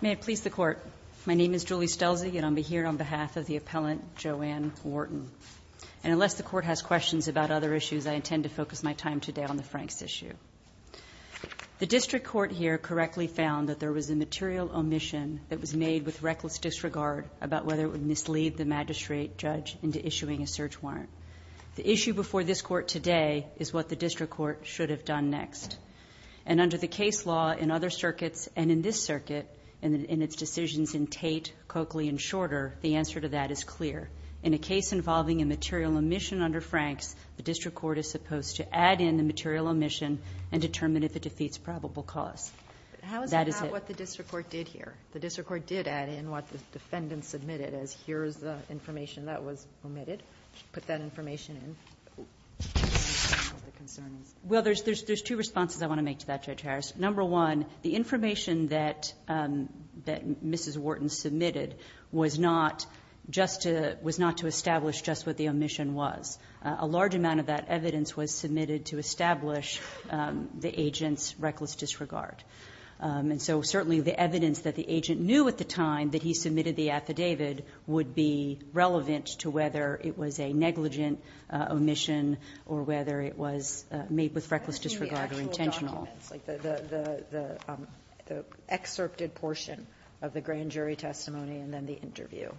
May it please the Court, my name is Julie Stelzi and I'm here on behalf of the appellant Joeann Wharton. And unless the Court has questions about other issues, I intend to focus my time today on the Franks issue. The District Court here correctly found that there was a material omission that was made with reckless disregard about whether it would mislead the magistrate judge into issuing a search warrant. The issue before this Court today is what the District Court should have done next. And under the case law in other circuits, and in this circuit, and in its decisions in Tate, Coakley, and Shorter, the answer to that is clear. In a case involving a material omission under Franks, the District Court is supposed to add in the material omission and determine if it defeats probable cause. That is it. How is it not what the District Court did here? The District Court did add in what the information that was omitted, put that information in. Well, there's two responses I want to make to that, Judge Harris. Number one, the information that Mrs. Wharton submitted was not to establish just what the omission was. A large amount of that evidence was submitted to establish the agent's reckless disregard. And so certainly the evidence that the agent knew at the time that he submitted the affidavit would be relevant to whether it was a negligent omission or whether it was made with reckless disregard But what about the actual documents, like the excerpted portion of the grand jury testimony and then the interview?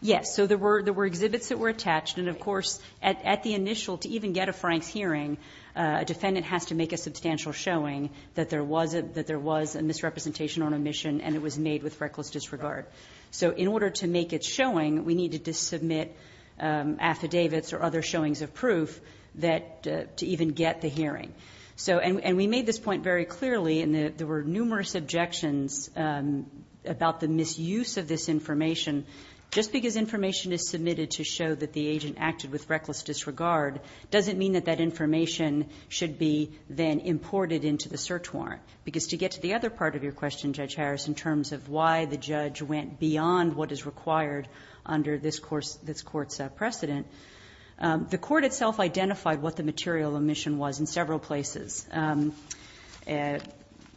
Yes. So there were exhibits that were attached. And, of course, at the initial, to even get a Franks hearing, a defendant has to make a substantial showing that there was a misrepresentation on omission and it was made with reckless disregard. So in order to make its showing, we needed to submit affidavits or other showings of proof to even get the hearing. And we made this point very clearly, and there were numerous objections about the misuse of this information. Just because information is submitted to show that the agent acted with reckless disregard doesn't mean that that information should be then imported into the search warrant. Because to get to the other part of your question, Judge Harris, in terms of why the judge went beyond what is required under this Court's precedent, the Court itself identified what the material omission was in several places.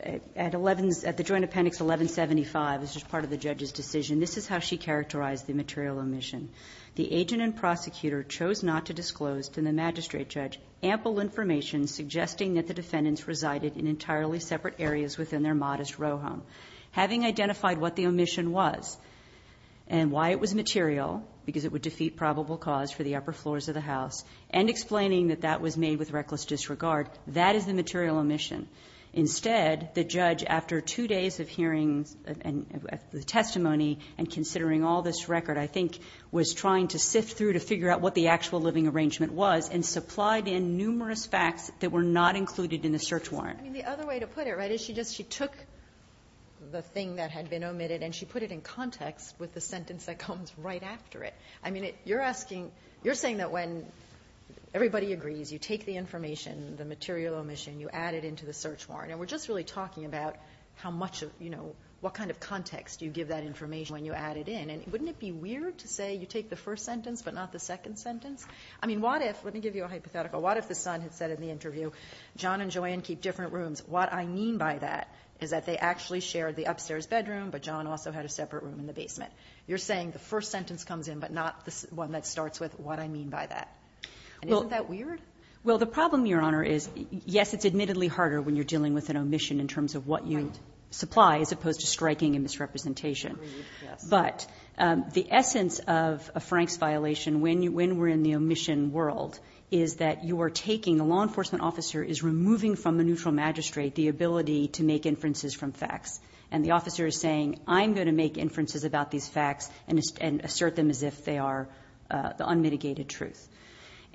At the Joint Appendix 1175, this is part of the judge's decision, this is how she characterized the material omission. The agent and prosecutor chose not to disclose to the magistrate judge ample information suggesting that the defendants resided in entirely separate areas within their modest row home. Having identified what the omission was and why it was material, because it would defeat probable cause for the upper floors of the house, and explaining that that was made with reckless disregard, that is the material omission. Instead, the judge, after two days of hearing the testimony and considering all this record, I think was trying to sift through to figure out what the actual living arrangement was and supplied in numerous facts that were not included in the search warrant. I mean, the other way to put it, right, is she just, she took the thing that had been omitted and she put it in context with the sentence that comes right after it. I mean, you're asking, you're saying that when everybody agrees, you take the information, the material omission, you add it into the search warrant. And we're just really talking about how much of, you know, what kind of context you give that information when you add it in. And wouldn't it be weird to say you take the first sentence but not the second sentence? I mean, what if, let me give you a hypothetical, what if the son had said in the interview, John and Joanne keep different rooms. What I mean by that is that they actually shared the upstairs bedroom but John also had a separate room in the basement. You're saying the first sentence comes in but not the one that starts with what I mean by that. And isn't that weird? Well, the problem, Your Honor, is yes, it's admittedly harder when you're dealing with an omission in terms of what you supply as opposed to striking and misrepresentation. But the essence of a Franks violation when we're in the omission world is that you are taking, the law enforcement officer is removing from a neutral magistrate the ability to make inferences from facts. And the officer is saying, I'm going to make inferences about these facts and assert them as if they are the unmitigated truth.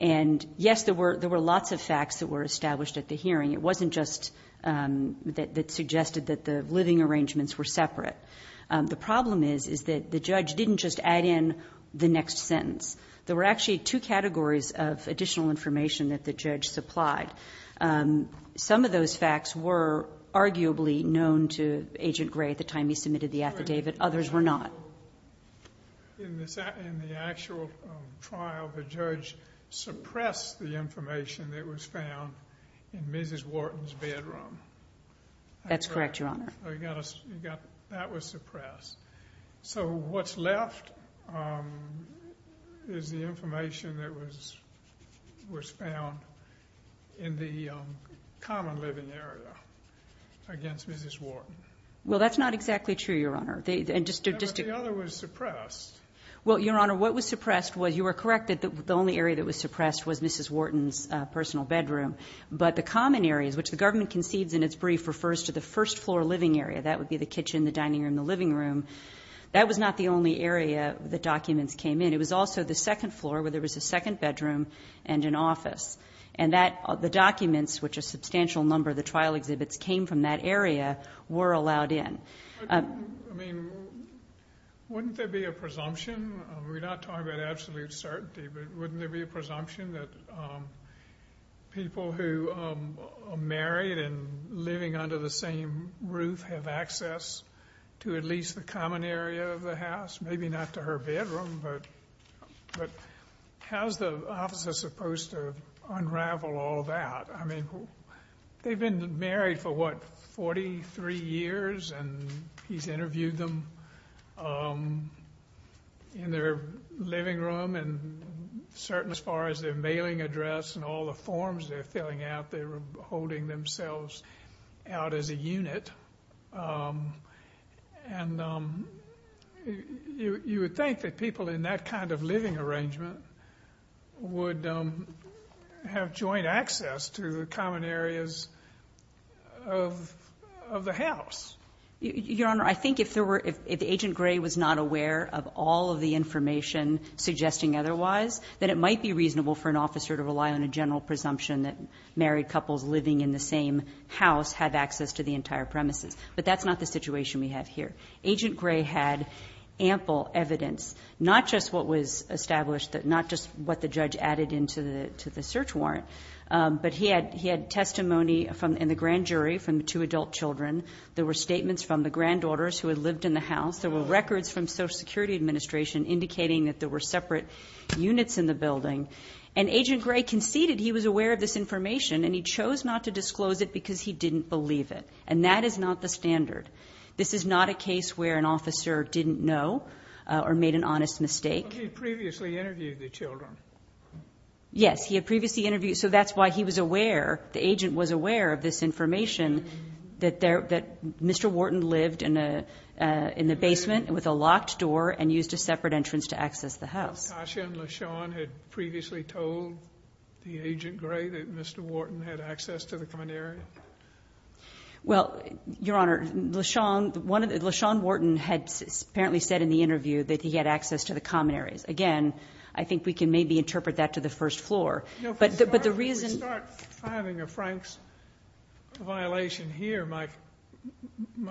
And yes, there were lots of facts that were established at the hearing. It wasn't just that it suggested that the living arrangements were separate. The problem is that the judge didn't just add in the next sentence. There were actually two categories of additional information that the judge supplied. Some of those facts were arguably known to Agent Gray at the time he submitted the affidavit. Others were not. In the actual trial, the judge suppressed the information that was found in Mrs. Wharton's bedroom. That's correct, Your Honor. That was suppressed. So what's left is the information that was found in the common living area against Mrs. Wharton. Well that's not exactly true, Your Honor. But the other was suppressed. Well Your Honor, what was suppressed was, you are correct that the only area that was concedes in its brief refers to the first floor living area. That would be the kitchen, the dining room, the living room. That was not the only area that documents came in. It was also the second floor where there was a second bedroom and an office. And the documents, which a substantial number of the trial exhibits came from that area, were allowed in. I mean, wouldn't there be a presumption? We're not talking about absolute certainty, but people who are married and living under the same roof have access to at least the common area of the house. Maybe not to her bedroom, but how's the officer supposed to unravel all that? I mean, they've been married for, what, 43 years and he's interviewed them in their living room and certain as far as their mailing address and all the forms they're filling out, they were holding themselves out as a unit. And you would think that people in that kind of living arrangement would have joint access to the common areas of the house. Your Honor, I think if there were, if Agent Gray was not aware of all of the information suggesting otherwise, then it might be reasonable for an officer to rely on a general presumption that married couples living in the same house have access to the entire premises. But that's not the situation we have here. Agent Gray had ample evidence, not just what was established, not just what the judge added into the search warrant, but he had testimony in the grand children. There were statements from the granddaughters who had lived in the house. There were records from Social Security Administration indicating that there were separate units in the building. And Agent Gray conceded he was aware of this information and he chose not to disclose it because he didn't believe it. And that is not the standard. This is not a case where an officer didn't know or made an honest mistake. But he had previously interviewed the children. Yes, he had previously interviewed. So that's why he was aware, the agent was aware of this information, that Mr. Wharton lived in the basement with a locked door and used a separate entrance to access the house. Natasha and LaShawn had previously told the Agent Gray that Mr. Wharton had access to the common area? Well, Your Honor, LaShawn Wharton had apparently said in the interview that he had access to the common areas. Again, I think we can maybe interpret that to the first floor. No, but the reason... Before we start having a Frank's violation here, my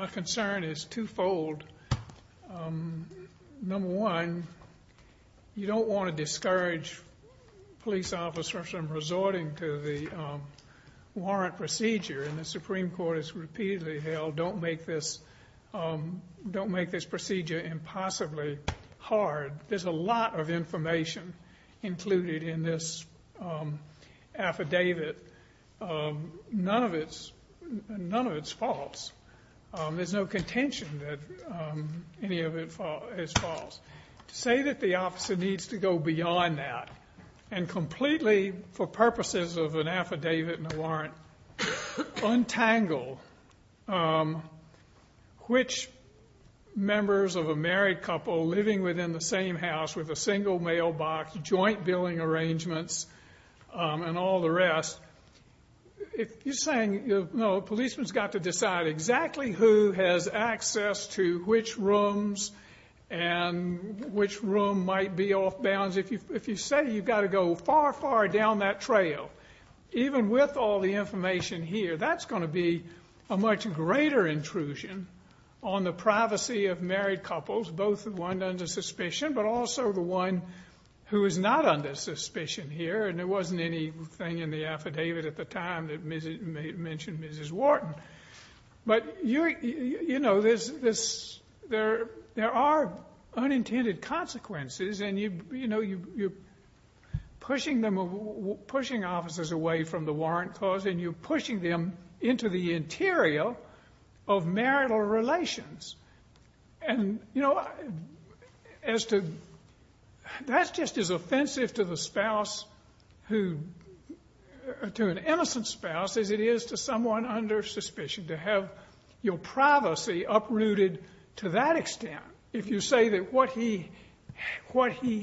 concern is twofold. Number one, you don't want to discourage police officers from resorting to the warrant procedure. And the Supreme Court has repeatedly held, don't make this procedure impossibly hard. There's a warrant in this affidavit. None of it's false. There's no contention that any of it is false. To say that the officer needs to go beyond that and completely, for purposes of an affidavit and a warrant, untangle which members of a married couple living within the same house with a single mailbox, joint billing arrangements, and all the rest, you're saying, no, a policeman's got to decide exactly who has access to which rooms and which room might be off bounds. If you say you've got to go far, far down that trail, even with all the information here, that's going to be a much greater intrusion on the privacy of married couples, both the one under suspicion, but also the one who is not under suspicion here. And there wasn't anything in the affidavit at the time that mentioned Mrs. Wharton. But there are unintended consequences, and you're pushing officers away from the warrant clause, and you're pushing them into the interior of marital relations. And, you know, that's just as offensive to the spouse, to an innocent spouse, as it is to someone under suspicion, to have your privacy uprooted to that extent, if you say that what he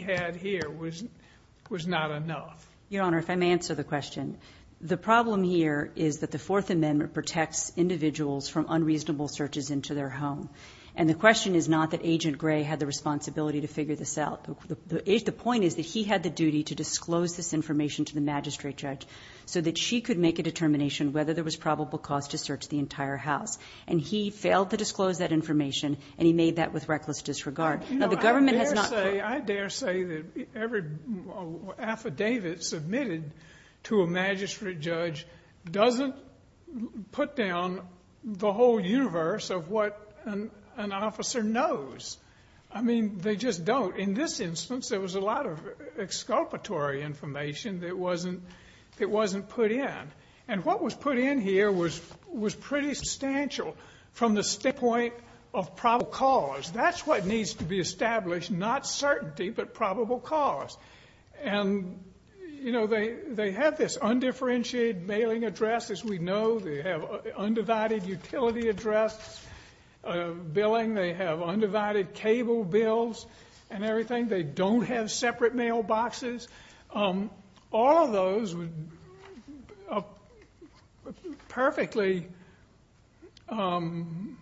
had here was not enough. Your Honor, if I may answer the question. The problem here is that the Fourth Amendment protects individuals from unreasonable searches into their home. And the question is not that Agent Gray had the responsibility to figure this out. The point is that he had the duty to disclose this information to the magistrate judge so that she could make a determination whether there was probable cause to search the entire house. And he failed to disclose that information, and he made that with reckless disregard. You know, I dare say, I dare say that every affidavit submitted to a magistrate judge doesn't put down the whole universe of what an officer knows. I mean, they just don't. In this instance, there was a lot of exculpatory information that wasn't put in. And what was put in here was pretty substantial from the standpoint of probable cause. That's what needs to be established, not certainty, but probable cause. And, you know, they had this undifferentiated mailing address, as we know. They have undivided utility address billing. They have undivided cable bills and everything. They don't have separate mailboxes. All of those were perfectly true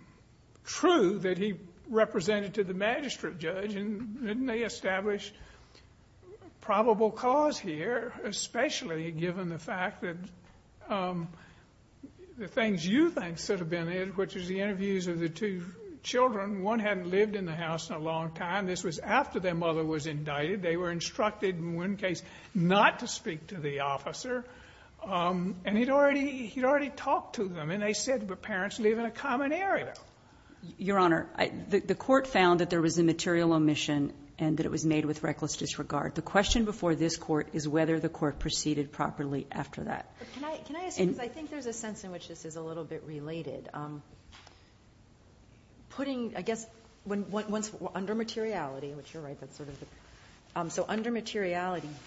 that he represented to the magistrate judge. And didn't they establish probable cause here, especially given the fact that the things you think should have been in, which is the interviews of the two children, one hadn't lived in the house in a long time. This was after their mother was indicted. They were instructed, in one case, not to speak to the officer. And he'd already talked to them. And they said, but parents live in a common area. Your Honor, the court found that there was a material omission and that it was made with reckless disregard. The question before this court is whether the court proceeded properly after that. Can I ask you, because I think there's a sense in which this is a little bit related. Putting, I guess, under materiality, which you're right, that's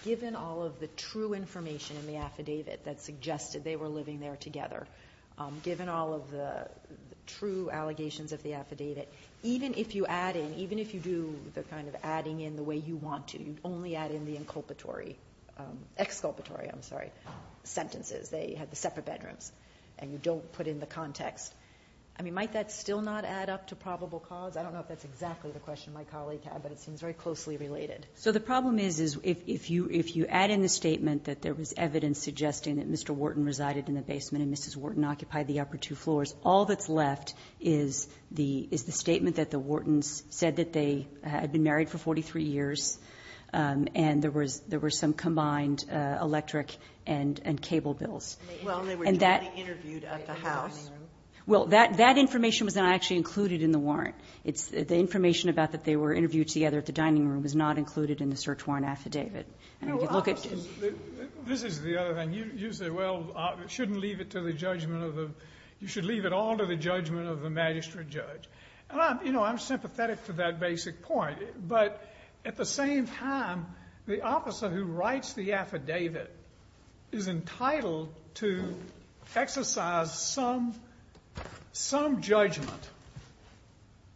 given all of the true information in the affidavit that suggested they were living there together, given all of the true allegations of the affidavit, even if you add in, even if you do the kind of adding in the way you want to, you only add in the exculpatory sentences. They had the separate bedrooms. And you don't put in the context. I mean, might that still not add up to probable cause? I don't know if that's exactly the question my colleague had, but it seems very closely related. So the problem is, is if you add in the statement that there was evidence suggesting that Mr. Wharton resided in the basement and Mrs. Wharton occupied the upper two floors, all that's left is the statement that the Whartons said that they had been married for 43 years and there were some combined electric and cable bills. Well, they were jointly interviewed at the house. Well, that information was not actually included in the warrant. It's the information about that they were interviewed together at the dining room is not included in the search warrant affidavit. This is the other thing. You say, well, shouldn't leave it to the judgment of the, you should leave it all to the judgment of the magistrate judge. And I'm, you know, I'm sympathetic to that basic point, but at the same time, the officer who writes the affidavit is entitled to exercise some judgment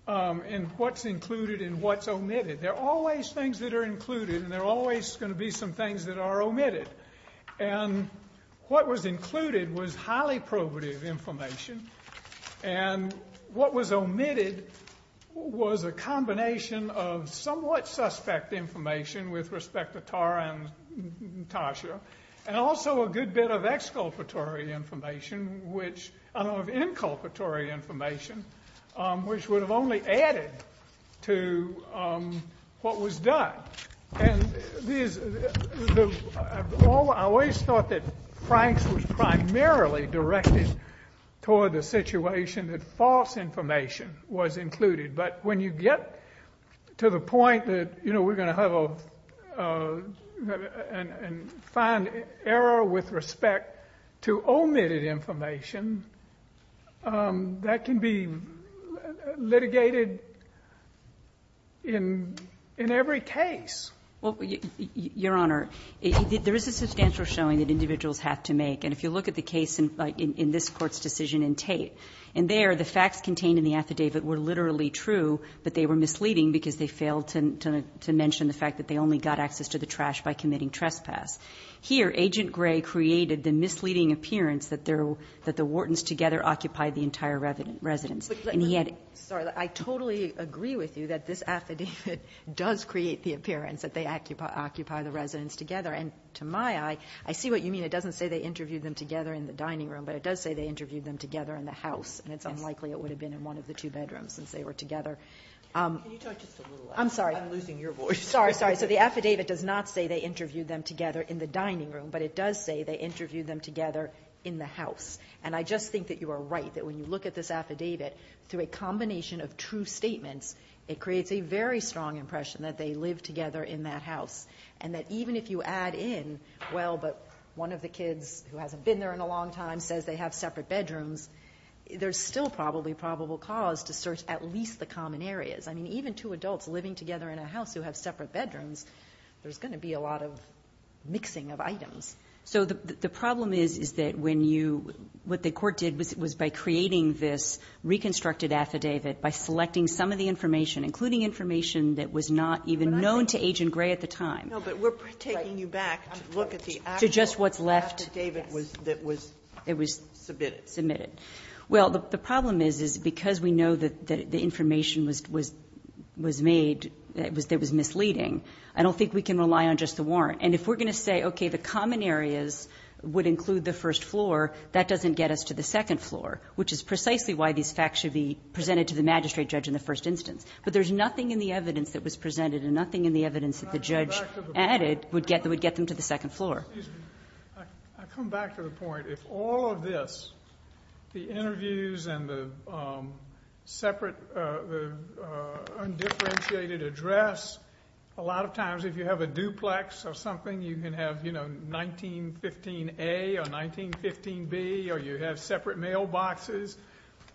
in what's included and what's omitted. There are always things that are included and there are always going to be some things that are omitted. And what was included was highly probative information. And what was omitted was a combination of exculpatory information, which I don't have inculpatory information, um, which would have only added to, um, what was done. And these, I always thought that Franks was primarily directed toward the situation that false information was included. But when you get to the point that, you know, we're going to have a, uh, and, and find error with respect to omitted information, um, that can be litigated in, in every case. Well, Your Honor, there is a substantial showing that individuals have to make. And if you look at the case in this court's decision in Tate and there, the facts contained in the affidavit were literally true, but they were misleading because they failed to, to, to mention the fact that they only got access to the trash by committing trespass. Here, Agent Gray created the misleading appearance that their, that the Whartons together occupied the entire residence. And he had to. But, but, but, sorry. I totally agree with you that this affidavit does create the appearance that they occupy, occupy the residence together. And to my eye, I see what you mean. It doesn't say they interviewed them together in the dining room, but it does say they interviewed them together in the house. And it's unlikely it would have been in one of the two bedrooms since they were together. Can you talk just a little louder? I'm sorry. I'm losing your voice. Sorry, sorry. So the affidavit does not say they interviewed them together in the dining room, but it does say they interviewed them together in the house. And I just think that you are right, that when you look at this affidavit through a combination of true statements, it creates a very strong impression that they live together in that house. And that even if you add in, well, but one of the kids who hasn't been there in a long time says they have separate bedrooms, there's still probably probable cause to search at least the common areas. I mean, even two adults living together in a house who have separate bedrooms, there's going to be a lot of mixing of items. So the, the problem is, is that when you, what the court did was, was by creating this reconstructed affidavit by selecting some of the information, including information that was not even known to Agent Gray at the time. No, but we're taking you back to look at the actual affidavit that was, that was submitted. Submitted. Well, the problem is, is because we know that the information was, was, was made, that was, that was misleading, I don't think we can rely on just the warrant. And if we're going to say, okay, the common areas would include the first floor, that doesn't get us to the second floor, which is precisely why these facts should be presented to the magistrate judge in the first instance. But there's nothing in the evidence that was presented and nothing in the evidence that the judge added would get, that would get them to the second floor. Excuse me. I come back to the point, if all of this, the interviews and the separate, the undifferentiated address, a lot of times if you have a duplex or something, you can have, you know, 1915 A or 1915 B, or you have separate mailboxes.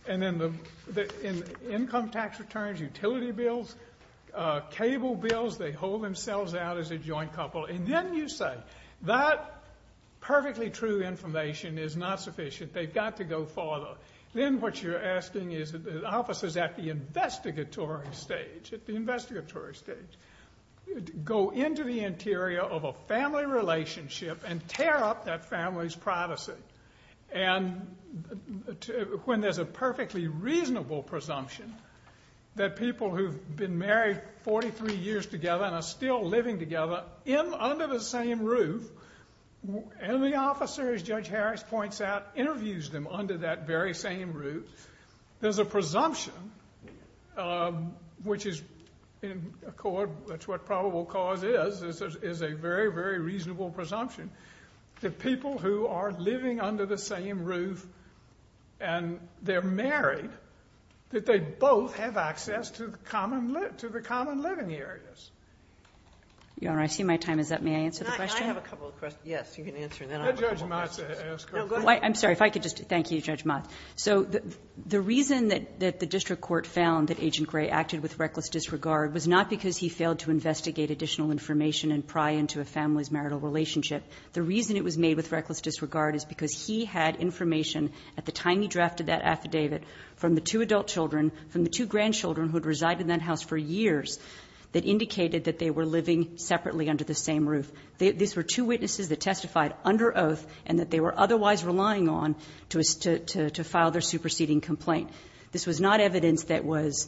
And then the, the income tax returns, utility bills, cable bills, they hold themselves out as a joint couple. And then you say, that perfectly true information is not sufficient. They've got to go farther. Then what you're asking is that the officers at the investigatory stage, at the investigatory stage, go into the interior of a family relationship and tear up that family's privacy. And when there's a perfectly reasonable presumption that people who've been married 43 years together and are still living together under the same roof, and the officer, as Judge Harris points out, interviews them under that very same roof, there's a presumption, which is, in a court, that's what probable cause is, is a very, very reasonable presumption, that people who are living under the same roof and they're married, that they both have access to common, to the common living areas. Your Honor, I see my time is up. May I answer the question? Can I have a couple of questions? Yes, you can answer and then I have a couple of questions. Let Judge Maza ask her question. I'm sorry, if I could just, thank you, Judge Maza. So the reason that the district court found that Agent Gray acted with reckless disregard was not because he failed to investigate additional information and pry into a family's marital relationship. The reason it was made with reckless disregard is because he had information at the time he drafted that affidavit from the two adult children, from the two grandchildren who had resided in that house for years, that indicated that they were living separately under the same roof. These were two witnesses that testified under oath and that they were otherwise relying on to file their superseding complaint. This was not evidence that was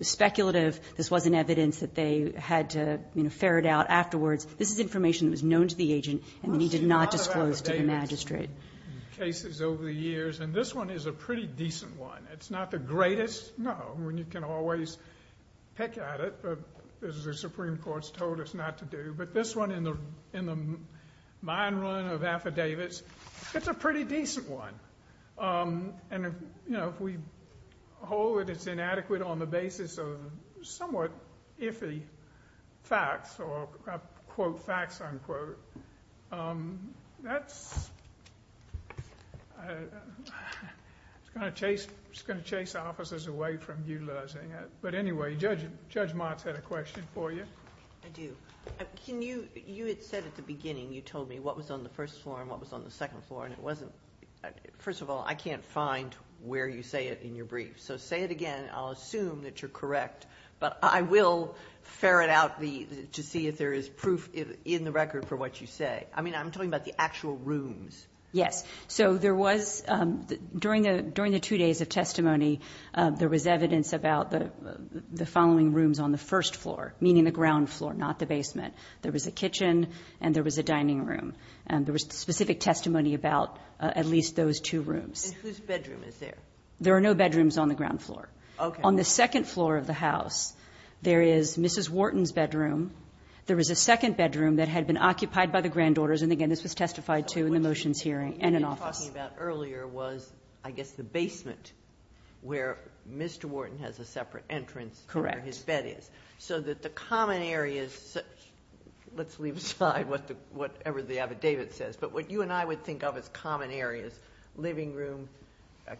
speculative. This wasn't evidence that they had to ferret out afterwards. This is information that was known to the agent and he did not disclose to the magistrate. We've seen other affidavits and cases over the years and this one is a pretty decent one. It's not the greatest, no, when you can always pick at it, but as the Supreme Court's told us not to do. But this one in the mine run of affidavits, it's a pretty decent one. And if we hold that it's inadequate on the basis of somewhat iffy facts or I'll quote facts unquote, that's going to chase officers away from utilizing it. But anyway, Judge Motz had a question for you. I do. You had said at the beginning, you told me what was on the first floor and what was on the second floor and it wasn't... First of all, I can't find where you say it in your brief, so say it again. I'll assume that you're correct, but I will ferret out to see if there is proof in the record for what you say. I mean, I'm talking about the actual rooms. Yes. So there was, during the two days of testimony, there was evidence about the following rooms on the first floor, meaning the ground floor, not the basement. There was a kitchen and there was a dining room and there was specific testimony about at least those two rooms. And whose bedroom is there? There are no bedrooms on the ground floor. Okay. On the second floor of the house, there is Mrs. Wharton's bedroom. There is a second bedroom that had been occupied by the granddaughters. And again, this was testified to in the motions hearing and in office. What you were talking about earlier was, I guess, the basement, where Mr. Wharton has a separate entrance where his bed is. Correct. So that the common areas... let's leave aside whatever the affidavit says. But what you and I would think of as common areas, living room,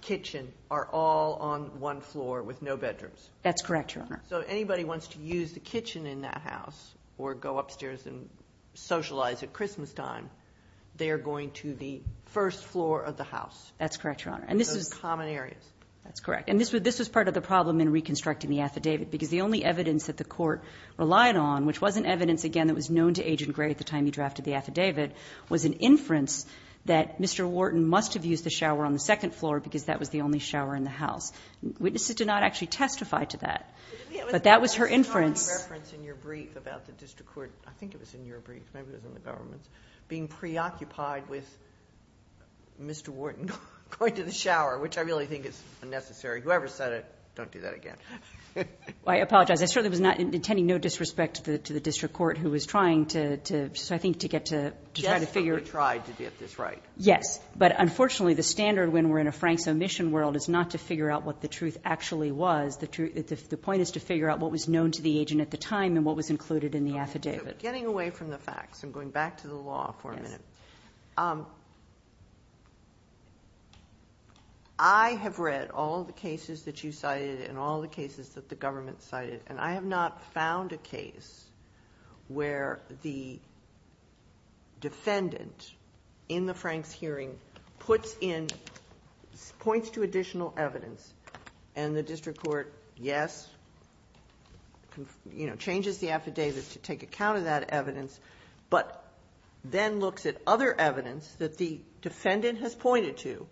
kitchen, are all on one floor with no bedrooms. That's correct, Your Honor. So anybody wants to use the kitchen in that house or go upstairs and socialize at Christmas time, they're going to the first floor of the house. That's correct, Your Honor. And this is... Those common areas. That's correct. And this was part of the problem in reconstructing the affidavit, because the only evidence that the court relied on, which was an evidence, again, that was known to Agent Gray at the time he drafted the affidavit, was an inference that Mr. Wharton must have used the shower on second floor because that was the only shower in the house. Witnesses did not actually testify to that. But that was her inference. There was a reference in your brief about the district court, I think it was in your brief, maybe it was in the government's, being preoccupied with Mr. Wharton going to the shower, which I really think is unnecessary. Whoever said it, don't do that again. I apologize. I certainly was not intending no disrespect to the district court who was trying to... So I think to get to try to figure... They tried to get this right. Yes. But unfortunately, the standard when we're in a Frank's omission world is not to figure out what the truth actually was. The point is to figure out what was known to the agent at the time and what was included in the affidavit. Getting away from the facts, I'm going back to the law for a minute. I have read all the cases that you cited and all the cases that the government cited, and I have not found a case where the defendant in the Frank's hearing points to additional evidence and the district court, yes, changes the affidavit to take account of that evidence, but then looks at other evidence that the defendant has pointed to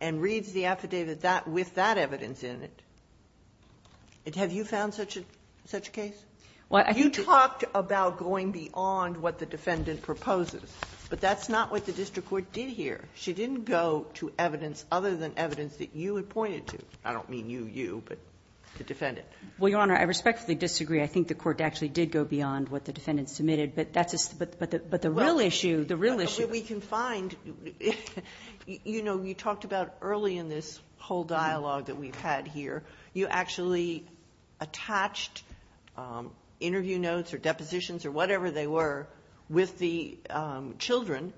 and reads the affidavit with that evidence in it. Have you found such a case? Well, I... You talked about going beyond what the defendant proposes, but that's not what the district court did here. She didn't go to evidence other than evidence that you had pointed to. I don't mean you, you, but the defendant. Well, Your Honor, I respectfully disagree. I think the court actually did go beyond what the defendant submitted, but the real issue... Well, we can find... You know, you talked about early in this whole dialogue that we've had here, you actually attached interview notes or depositions or whatever they were with the children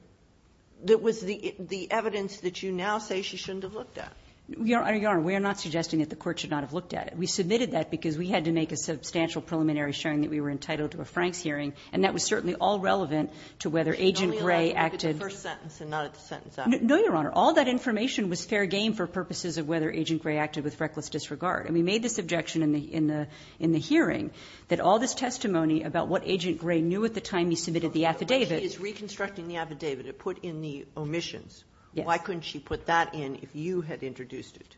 that was the evidence that you now say she shouldn't have looked at. Your Honor, we are not suggesting that the court should not have looked at it. We submitted that because we had to make a substantial preliminary sharing that we were entitled to a Frank's hearing, and that was certainly all relevant to whether Agent Gray acted... She only allowed to look at the first sentence and not at the sentence after. No, Your Honor. All that information was fair game for purposes of whether Agent Gray acted with reckless disregard. And we made this objection in the hearing that all this testimony about what Agent Gray knew at the time he submitted the affidavit... She is reconstructing the affidavit. It put in the omissions. Why couldn't she put that in if you had introduced it,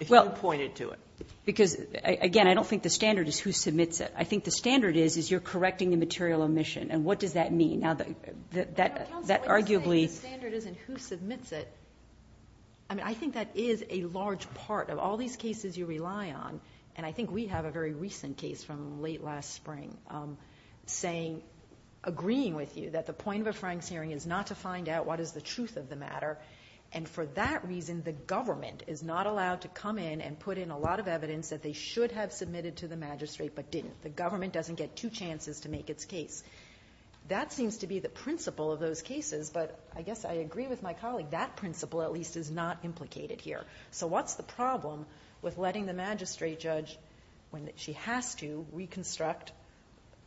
if you pointed to it? Because, again, I don't think the standard is who submits it. I think the standard is you're correcting the material omission. And what does that mean? Now, that arguably... I mean, I think that is a large part of all these cases you rely on. And I think we have a very recent case from late last spring agreeing with you that the point of a Frank's hearing is not to find out what is the truth of the matter. And for that reason, the government is not allowed to come in and put in a lot of evidence that they should have submitted to the magistrate but didn't. The government doesn't get two chances to make its case. That seems to be the principle of those cases. But I guess I agree with my colleague. That principle, at least, is not implicated here. So what's the problem with letting the magistrate judge when she has to reconstruct...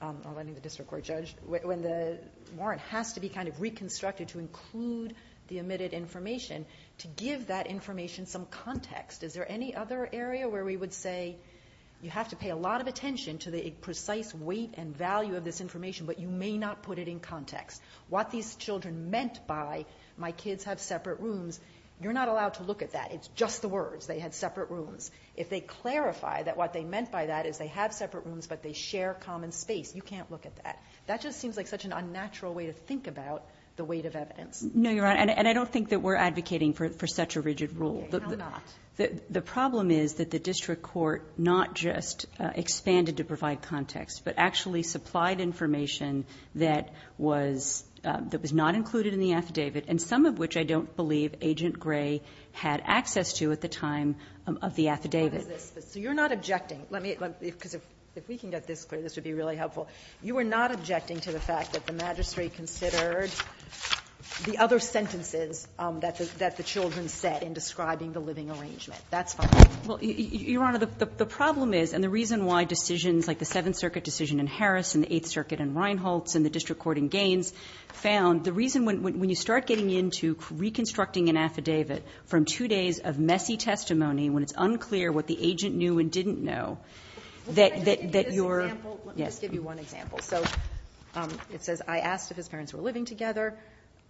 or letting the district court judge when the warrant has to be kind of reconstructed to include the omitted information to give that information some context? Is there any other area where we would say you have to pay a lot of attention to the precise weight and value of this information, but you may not put it in context? What these children meant by my kids have separate rooms, you're not allowed to look at that. It's just the words. They had separate rooms. If they clarify that what they meant by that is they have separate rooms but they share common space, you can't look at that. That just seems like such an unnatural way to think about the weight of evidence. No, Your Honor, and I don't think that we're advocating for such a rigid rule. Okay, how not? The problem is that the district court not just expanded to provide context but actually supplied information that was not included in the affidavit and some of which I don't believe Agent Gray had access to at the time of the affidavit. So you're not objecting. Let me... because if we can get this clear, this would be really helpful. You are not objecting to the fact that the magistrate considered the other sentences that the children said in describing the living arrangement. That's fine. Well, Your Honor, the problem is and the reason why decisions like the Seventh Circuit and Reinholtz and the district court in Gaines found, the reason when you start getting into reconstructing an affidavit from two days of messy testimony when it's unclear what the agent knew and didn't know, that you're... Let me just give you one example. So it says, I asked if his parents were living together.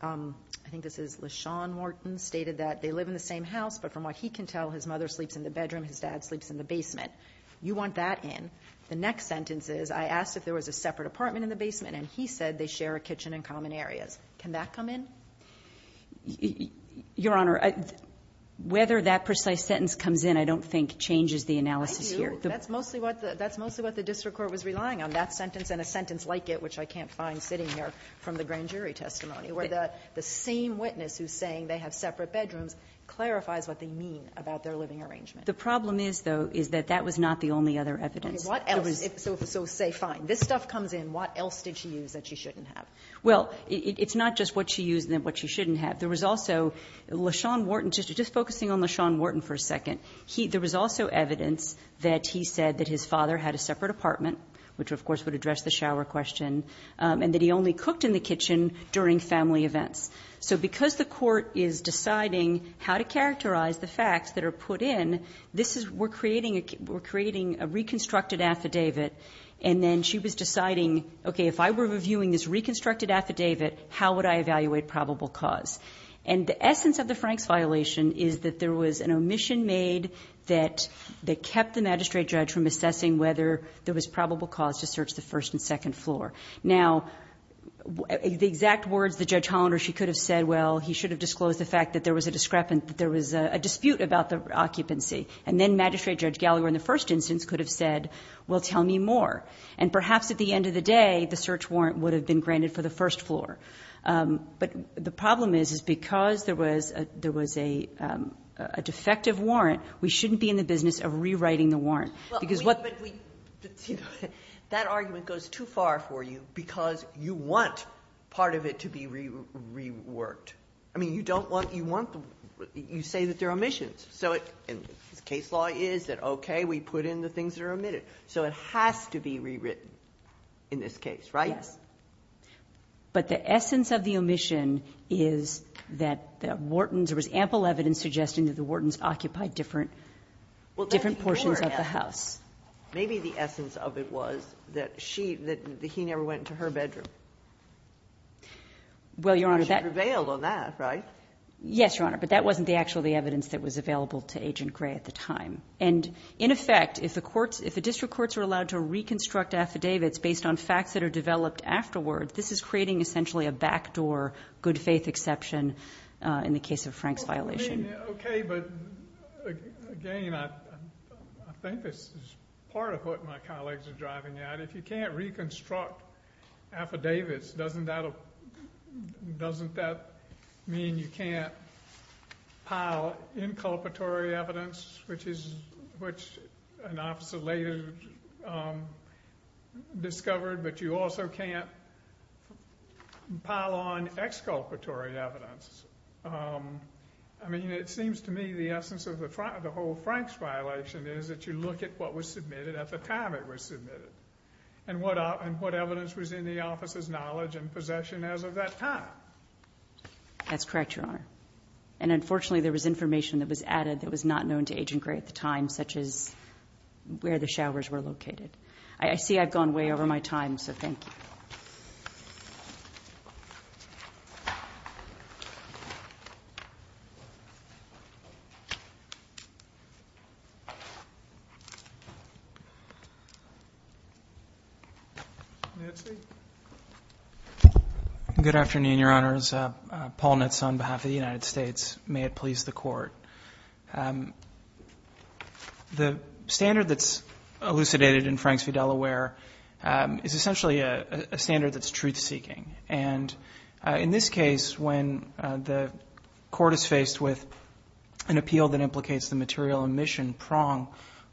I think this is LaShawn Morton stated that they live in the same house, but from what he can tell, his mother sleeps in the bedroom, his dad sleeps in the basement. You want that in. The next sentence is, I asked if there was a separate apartment in the basement and he said they share a kitchen in common areas. Can that come in? Your Honor, whether that precise sentence comes in, I don't think changes the analysis here. I do. That's mostly what the district court was relying on. That sentence and a sentence like it, which I can't find sitting here from the grand jury testimony, where the same witness who's saying they have separate bedrooms clarifies what they mean about their living arrangement. The problem is, though, is that that was not the only other evidence. So say, fine, this stuff comes in. What else did she use that she shouldn't have? Well, it's not just what she used and what she shouldn't have. There was also LaShawn Morton, just focusing on LaShawn Morton for a second. There was also evidence that he said that his father had a separate apartment, which of course would address the shower question, and that he only cooked in the kitchen during family events. So because the court is deciding how to characterize the facts that are put in, this reconstructed affidavit, and then she was deciding, okay, if I were reviewing this reconstructed affidavit, how would I evaluate probable cause? And the essence of the Franks violation is that there was an omission made that kept the magistrate judge from assessing whether there was probable cause to search the first and second floor. Now, the exact words that Judge Hollander, she could have said, well, he should have disclosed the fact that there was a dispute about the occupancy. And then Magistrate Judge Gallagher in the first instance could have said, well, tell me more. And perhaps at the end of the day, the search warrant would have been granted for the first floor. But the problem is, is because there was a defective warrant, we shouldn't be in the business of rewriting the warrant. Because what we... But that argument goes too far for you because you want part of it to be reworked. I mean, you don't want, you say that there are omissions. So the case law is that, okay, we put in the things that are omitted. So it has to be rewritten in this case, right? Yes. But the essence of the omission is that the Wharton's, there was ample evidence suggesting that the Wharton's occupied different portions of the house. Maybe the essence of it was that she, that he never went to her bedroom. Well, Your Honor, that... Because you prevailed on that, right? Yes, Your Honor. But that wasn't the actual, the evidence that was available to Agent Gray at the time. And in effect, if the courts, if the district courts are allowed to reconstruct affidavits based on facts that are developed afterward, this is creating essentially a backdoor good faith exception in the case of Frank's violation. Okay. But again, I think this is part of what my colleagues are driving at. If you can't reconstruct affidavits, doesn't that mean you can't pile inculpatory evidence, which an officer later discovered, but you also can't pile on exculpatory evidence? I mean, it seems to me the essence of the whole Frank's violation is that you look at what was submitted at the time it was submitted and what evidence was in the office's knowledge and possession as of that time. That's correct, Your Honor. And unfortunately, there was information that was added that was not known to Agent Gray at the time, such as where the showers were located. I see I've gone way over my time, so thank you. Nancy? Good afternoon, Your Honors. Paul Nitz on behalf of the United States. May it please the Court. The standard that's elucidated in Frank v. Delaware is essentially a standard that's truth-seeking. And in this case, when the Court is faced with an appeal that implicates the material omission prong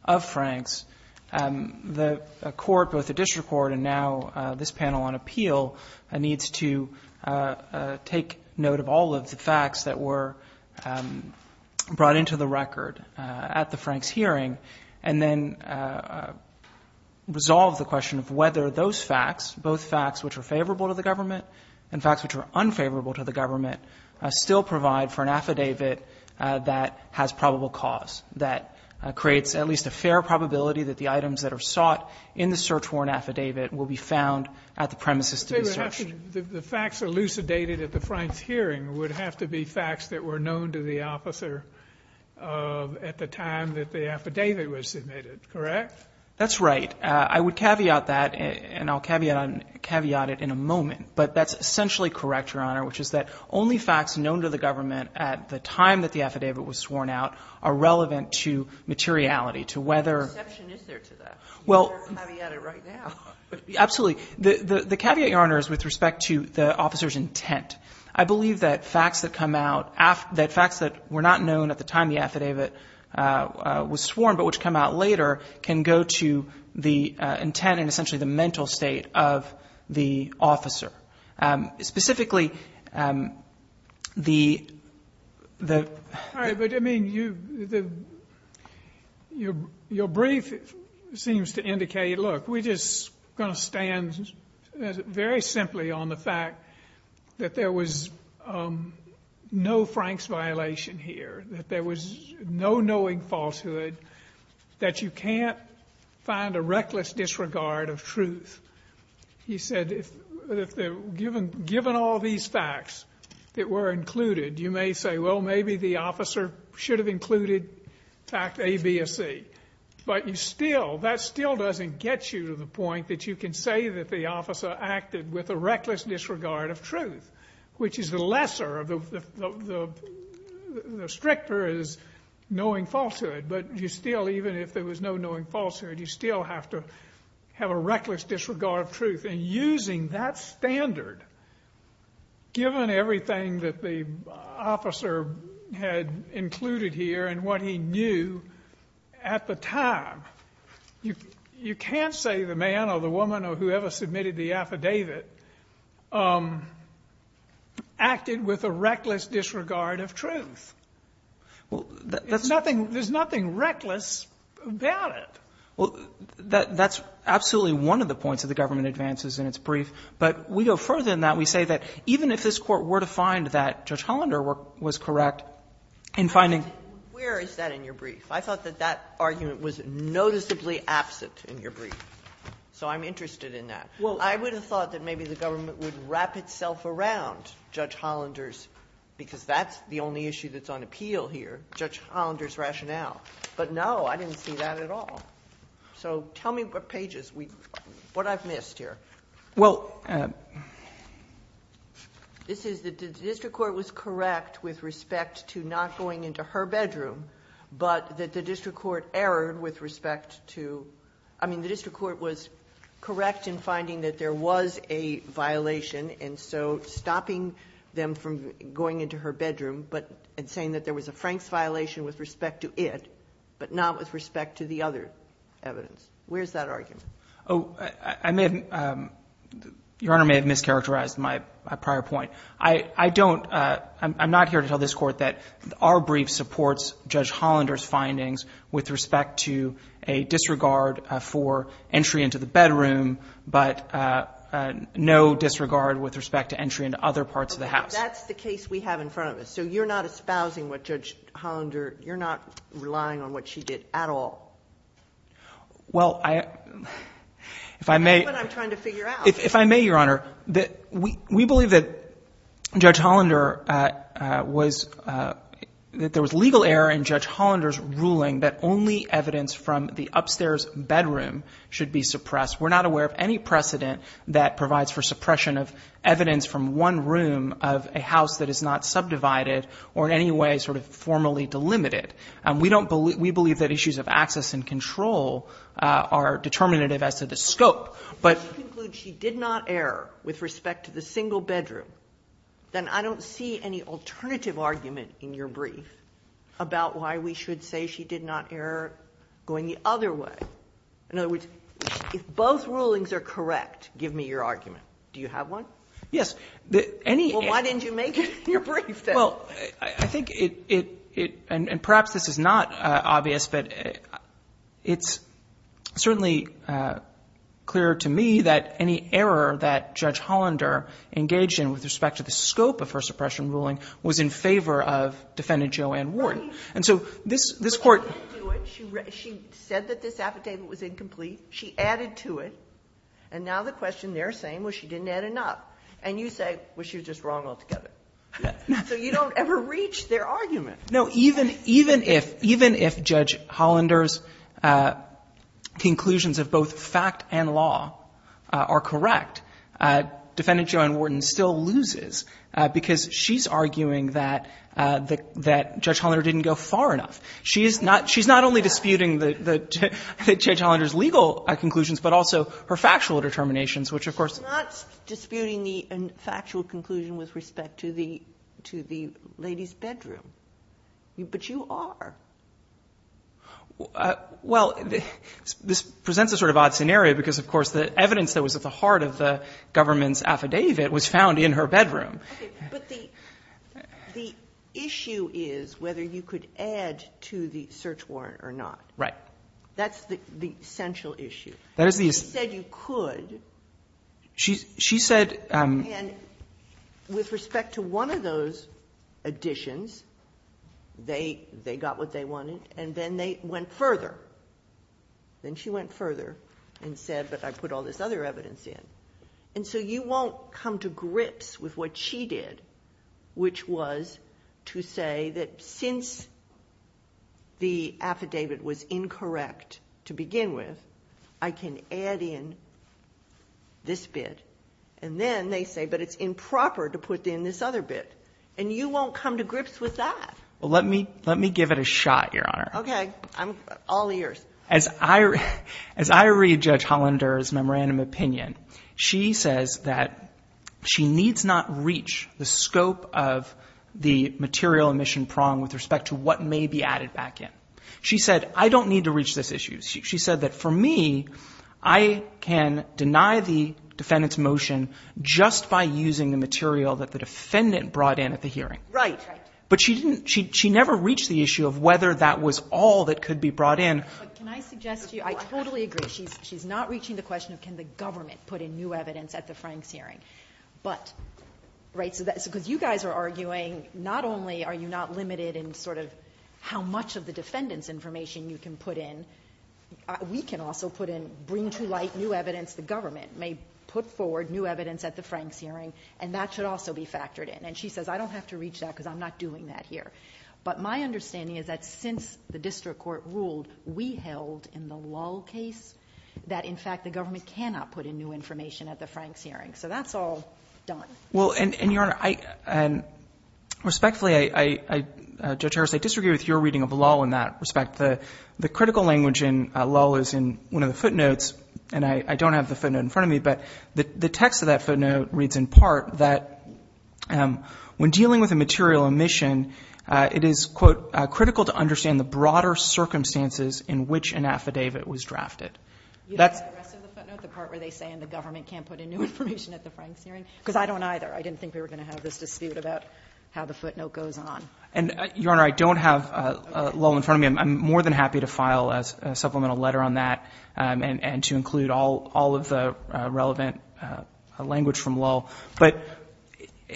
of Frank's, the Court, both the district court and now this panel on appeal, needs to take note of all of the facts that were brought into the record at the Frank's hearing and then resolve the question of whether those facts, both facts which are favorable to the government and facts which are unfavorable to the government, still provide for an affidavit that has probable cause, that creates at least a fair probability that the items that are sought in the search warrant affidavit will be found at the premises to be searched. The facts elucidated at the Frank's hearing would have to be facts that were known to the officer at the time that the affidavit was submitted, correct? That's right. I would caveat that, and I'll caveat it in a moment. But that's essentially correct, Your Honor, which is that only facts known to the government at the time that the affidavit was sworn out are relevant to materiality, to whether — What exception is there to that? Well — You're going to caveat it right now. Absolutely. The caveat, Your Honor, is with respect to the officer's intent. I believe that facts that come out — that facts that were not known at the time the affidavit was sworn but which come out later can go to the intent and essentially the mental state of the officer. Specifically, the — All right. But, I mean, your brief seems to indicate, look, we're just going to stand very simply on the fact that there was no Frank's violation here, that there was no knowing falsehood, that you can't find a reckless disregard of truth. He said, given all these facts that were included, you may say, well, maybe the officer should have included fact A, B, or C. But you still — that still doesn't get you to the point that you can say that the officer acted with a reckless disregard of truth, which is the lesser of the — the even if there was no knowing falsehood, you still have to have a reckless disregard of truth. And using that standard, given everything that the officer had included here and what he knew at the time, you can't say the man or the woman or whoever submitted the affidavit acted with a reckless disregard of truth. Well, that's — There's nothing reckless about it. Well, that's absolutely one of the points of the government advances in its brief. But we go further than that. We say that even if this Court were to find that Judge Hollander was correct in finding Where is that in your brief? I thought that that argument was noticeably absent in your brief. So I'm interested in that. Well, I would have thought that maybe the government would wrap itself around Judge Hollander's — because that's the only issue that's on appeal here, Judge Hollander's rationale. But no, I didn't see that at all. So tell me what pages we — what I've missed here. Well, this is that the district court was correct with respect to not going into her bedroom, but that the district court erred with respect to — I mean, the district court was correct in finding that there was a violation, and so stopping them from going into her bedroom, but — and saying that there was a Franks violation with respect to it, but not with respect to the other evidence. Where's that argument? Oh, I may have — Your Honor may have mischaracterized my prior point. I don't — I'm not here to tell this Court that our brief supports Judge Hollander's findings with respect to a disregard for entry into the bedroom, but no disregard with respect to entry into other parts of the house. That's the case we have in front of us. So you're not espousing what Judge Hollander — you're not relying on what she did at all? Well, I — if I may — That's what I'm trying to figure out. If I may, Your Honor, we believe that Judge Hollander was — that there was legal error in Judge Hollander's ruling that only evidence from the upstairs bedroom should be suppressed. We're not aware of any precedent that provides for suppression of evidence from one room of a house that is not subdivided or in any way sort of formally delimited. We don't believe — we believe that issues of access and control are determinative as to the scope, but — If you conclude she did not err with respect to the single bedroom, then I don't see any alternative argument in your brief about why we should say she did not err going the other way. In other words, if both rulings are correct, give me your argument. Do you have one? Yes. Any — Well, why didn't you make it in your brief, then? Well, I think it — and perhaps this is not obvious, but it's certainly clearer to me that any error that Judge Hollander engaged in with respect to the scope of her suppression ruling was in favor of Defendant Joanne Wharton. And so this Court — But she didn't do it. She said that this affidavit was incomplete. She added to it. And now the question they're saying was she didn't add enough. And you say, well, she was just wrong altogether. So you don't ever reach their argument. No. Even — even if — even if Judge Hollander's conclusions of both fact and law are correct, Defendant Joanne Wharton still loses because she's arguing that — that Judge Hollander didn't go far enough. She is not — she's not only disputing the — the Judge Hollander's legal conclusions, but also her factual determinations, which, of course — She's not disputing the factual conclusion with respect to the — to the lady's bedroom. But you are. Well, this presents a sort of odd scenario because, of course, the evidence that was at the heart of the government's affidavit was found in her bedroom. OK. But the — the issue is whether you could add to the search warrant or not. Right. That's the essential issue. That is the — She said you could. She — she said — And with respect to one of those additions, they — they got what they wanted. And then they went further. Then she went further and said, but I put all this other evidence in. And so you won't come to grips with what she did, which was to say that since the affidavit was incorrect to begin with, I can add in this bit. And then they say, but it's improper to put in this other bit. And you won't come to grips with that. Well, let me — let me give it a shot, Your Honor. OK. I'm — all ears. As I — as I read Judge Hollander's memorandum opinion, she says that she needs not reach the scope of the material emission prong with respect to what may be added back in. She said, I don't need to reach this issue. She said that for me, I can deny the defendant's motion just by using the material that the defendant brought in at the hearing. Right. But she didn't — she never reached the issue of whether that was all that could be brought in. But can I suggest to you — I totally agree. She's — she's not reaching the question of can the government put in new evidence at the Franks hearing. But — right. So that — because you guys are arguing not only are you not limited in sort of how much of the defendant's information you can put in, we can also put in — bring to light new evidence the government may put forward, new evidence at the Franks hearing, and that should also be factored in. And she says, I don't have to reach that because I'm not doing that here. But my understanding is that since the district court ruled, we held in the Lull case that, in fact, the government cannot put in new information at the Franks hearing. So that's all done. Well, and, Your Honor, I — and respectfully, I — Judge Harris, I disagree with your reading of the Lull in that respect. The critical language in Lull is in one of the footnotes, and I don't have the footnote in front of me, but the text of that footnote reads in part that when dealing with a material omission, it is, quote, critical to understand the broader circumstances in which an affidavit was drafted. You don't have the rest of the footnote, the part where they say the government can't put in new information at the Franks hearing? Because I don't either. I didn't think we were going to have this dispute about how the footnote goes on. And, Your Honor, I don't have Lull in front of me. I'm more than happy to file a supplemental letter on that and to include all of the relevant language from Lull. But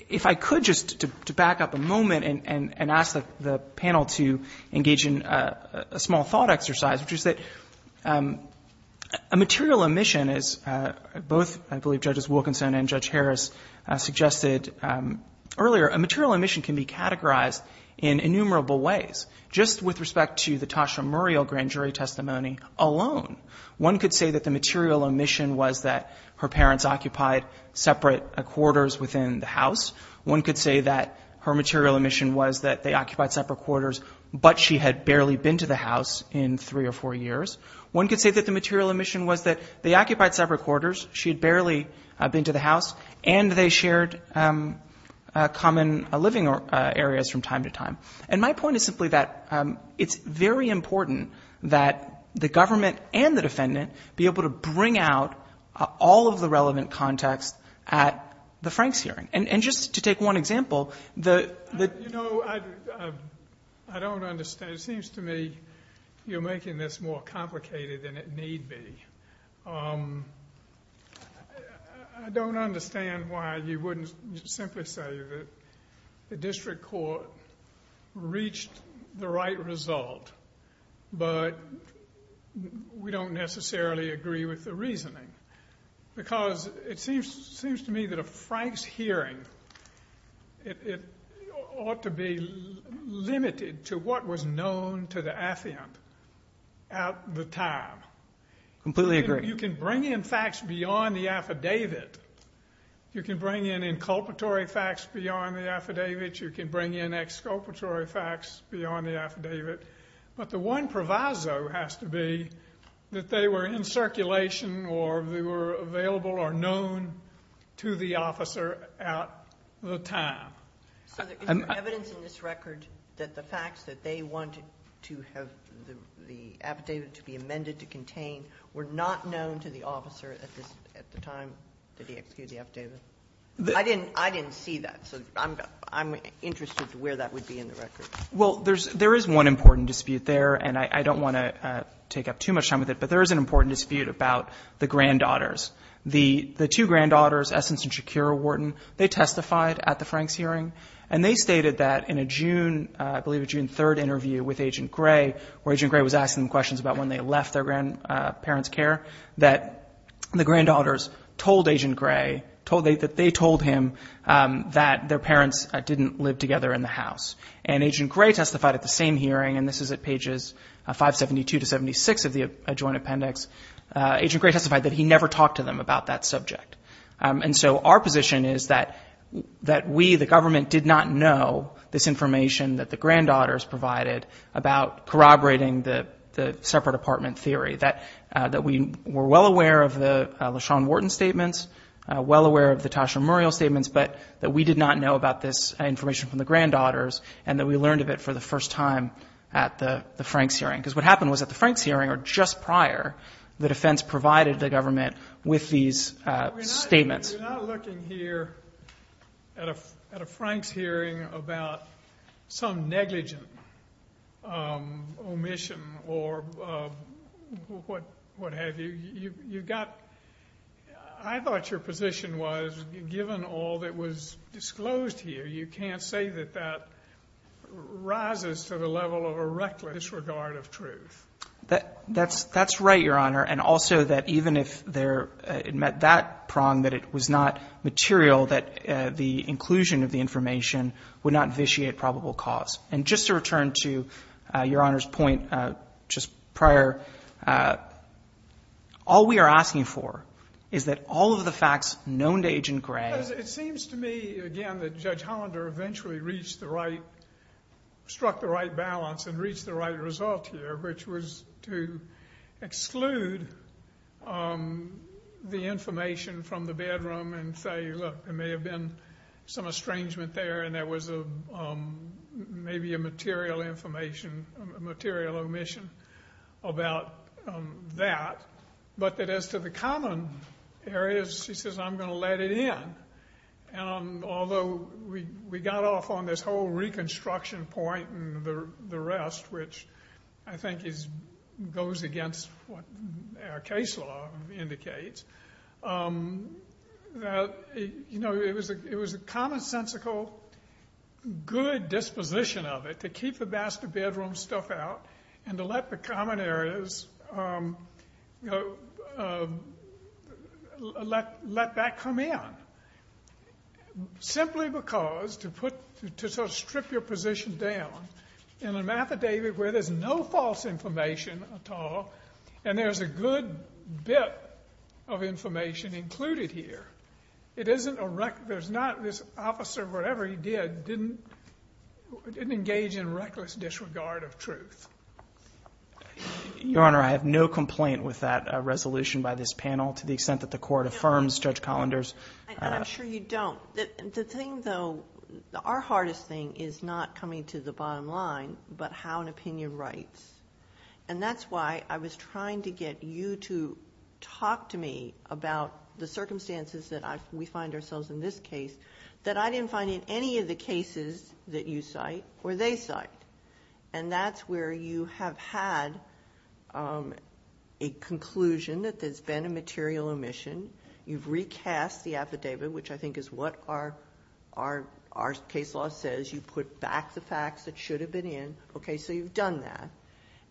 if I could just to back up a moment and ask the panel to engage in a small thought exercise, which is that a material omission, as both, I believe, Judges Wilkinson and Judge Harris suggested earlier, a material omission can be categorized in innumerable ways. Just with respect to the Tasha Muriel grand jury testimony alone, one could say that the material omission was that her parents occupied separate quarters within the house. One could say that her material omission was that they occupied separate quarters, but she had barely been to the house in three or four years. One could say that the material omission was that they occupied separate quarters, she had barely been to the house, and they shared common living areas from time to time. And my point is simply that it's very important that the government and the defendant be able to bring out all of the relevant context at the Franks hearing. And just to take one example, the... You know, I don't understand. It seems to me you're making this more complicated than it need be. I don't understand why you wouldn't simply say that the district court reached the right result, but we don't necessarily agree with the reasoning. Because it seems to me that a Franks hearing, it ought to be limited to what was known to the affiant at the time. Completely agree. You can bring in facts beyond the affidavit. You can bring in inculpatory facts beyond the affidavit. You can bring in exculpatory facts beyond the affidavit. But the one proviso has to be that they were in circulation or they were available or known to the officer at the time. So is there evidence in this record that the facts that they wanted to have the affidavit to be amended to contain were not known to the officer at the time that he executed the affidavit? I didn't see that. So I'm interested to where that would be in the record. Well, there is one important dispute there. And I don't want to take up too much time with it. But there is an important dispute about the granddaughters. The two granddaughters, Essence and Shakira Wharton, they testified at the Franks hearing. And they stated that in a June, I believe a June 3rd interview with Agent Gray, where Agent Gray was asking them questions about when they left their grandparents' care, that the granddaughters told Agent Gray, that they told him that their parents didn't live together in the house. And Agent Gray testified at the same hearing. And this is at pages 572 to 76 of the adjoined appendix. Agent Gray testified that he never talked to them about that subject. And so our position is that we, the government, did not know this information that the granddaughters provided about corroborating the separate apartment theory, that we were well aware of the LaShawn Wharton statements, well aware of the Tasha Muriel statements, but that we did not know about this information from the granddaughters, and that we learned of it for the first time at the Franks hearing. Because what happened was at the Franks hearing, or just prior, the defense provided the government with these statements. We're not looking here at a Franks hearing about some negligent omission or what have you. You've got, I thought your position was, given all that was disclosed here, you can't say that that rises to the level of a reckless disregard of truth. That's right, Your Honor. And also that even if it met that prong, that it was not material, that the inclusion of the information would not vitiate probable cause. And just to return to Your Honor's point, just prior, all we are asking for is that all of the facts known to Agent Gray... Because it seems to me, again, that Judge Hollander eventually struck the right balance and reached the right result here, which was to exclude the information from the bedroom and say, look, there may have been some estrangement there and there was maybe a material omission about that. But that as to the common areas, she says, I'm going to let it in. And although we got off on this whole reconstruction point and the rest, which I think goes against what our case law indicates, it was a commonsensical, good disposition of it to keep the master bedroom stuff out and to let the common areas, let that come in. Simply because to sort of strip your position down in a mathematic where there's no false information at all, and there's a good bit of information included here. It isn't a... There's not... This officer, whatever he did, didn't engage in reckless disregard of truth. Your Honor, I have no complaint with that resolution by this panel, to the extent that the court affirms Judge Hollander's... I'm sure you don't. The thing, though, our hardest thing is not coming to the bottom line, but how an opinion writes. And that's why I was trying to get you to talk to me about the circumstances that we find ourselves in this case that I didn't find in any of the cases that you cite or they cite. And that's where you have had a conclusion that there's been a material omission. You've recast the affidavit, which I think is what our case law says. You put back the facts that should have been in. Okay? So you've done that.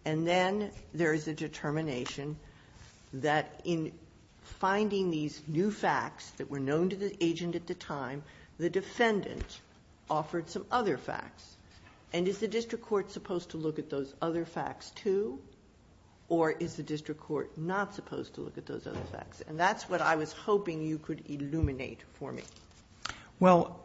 And then there is a determination that in finding these new facts that were known to the agent at the time, the defendant offered some other facts. And is the district court supposed to look at those other facts, too? Or is the district court not supposed to look at those other facts? And that's what I was hoping you could illuminate for me. Well,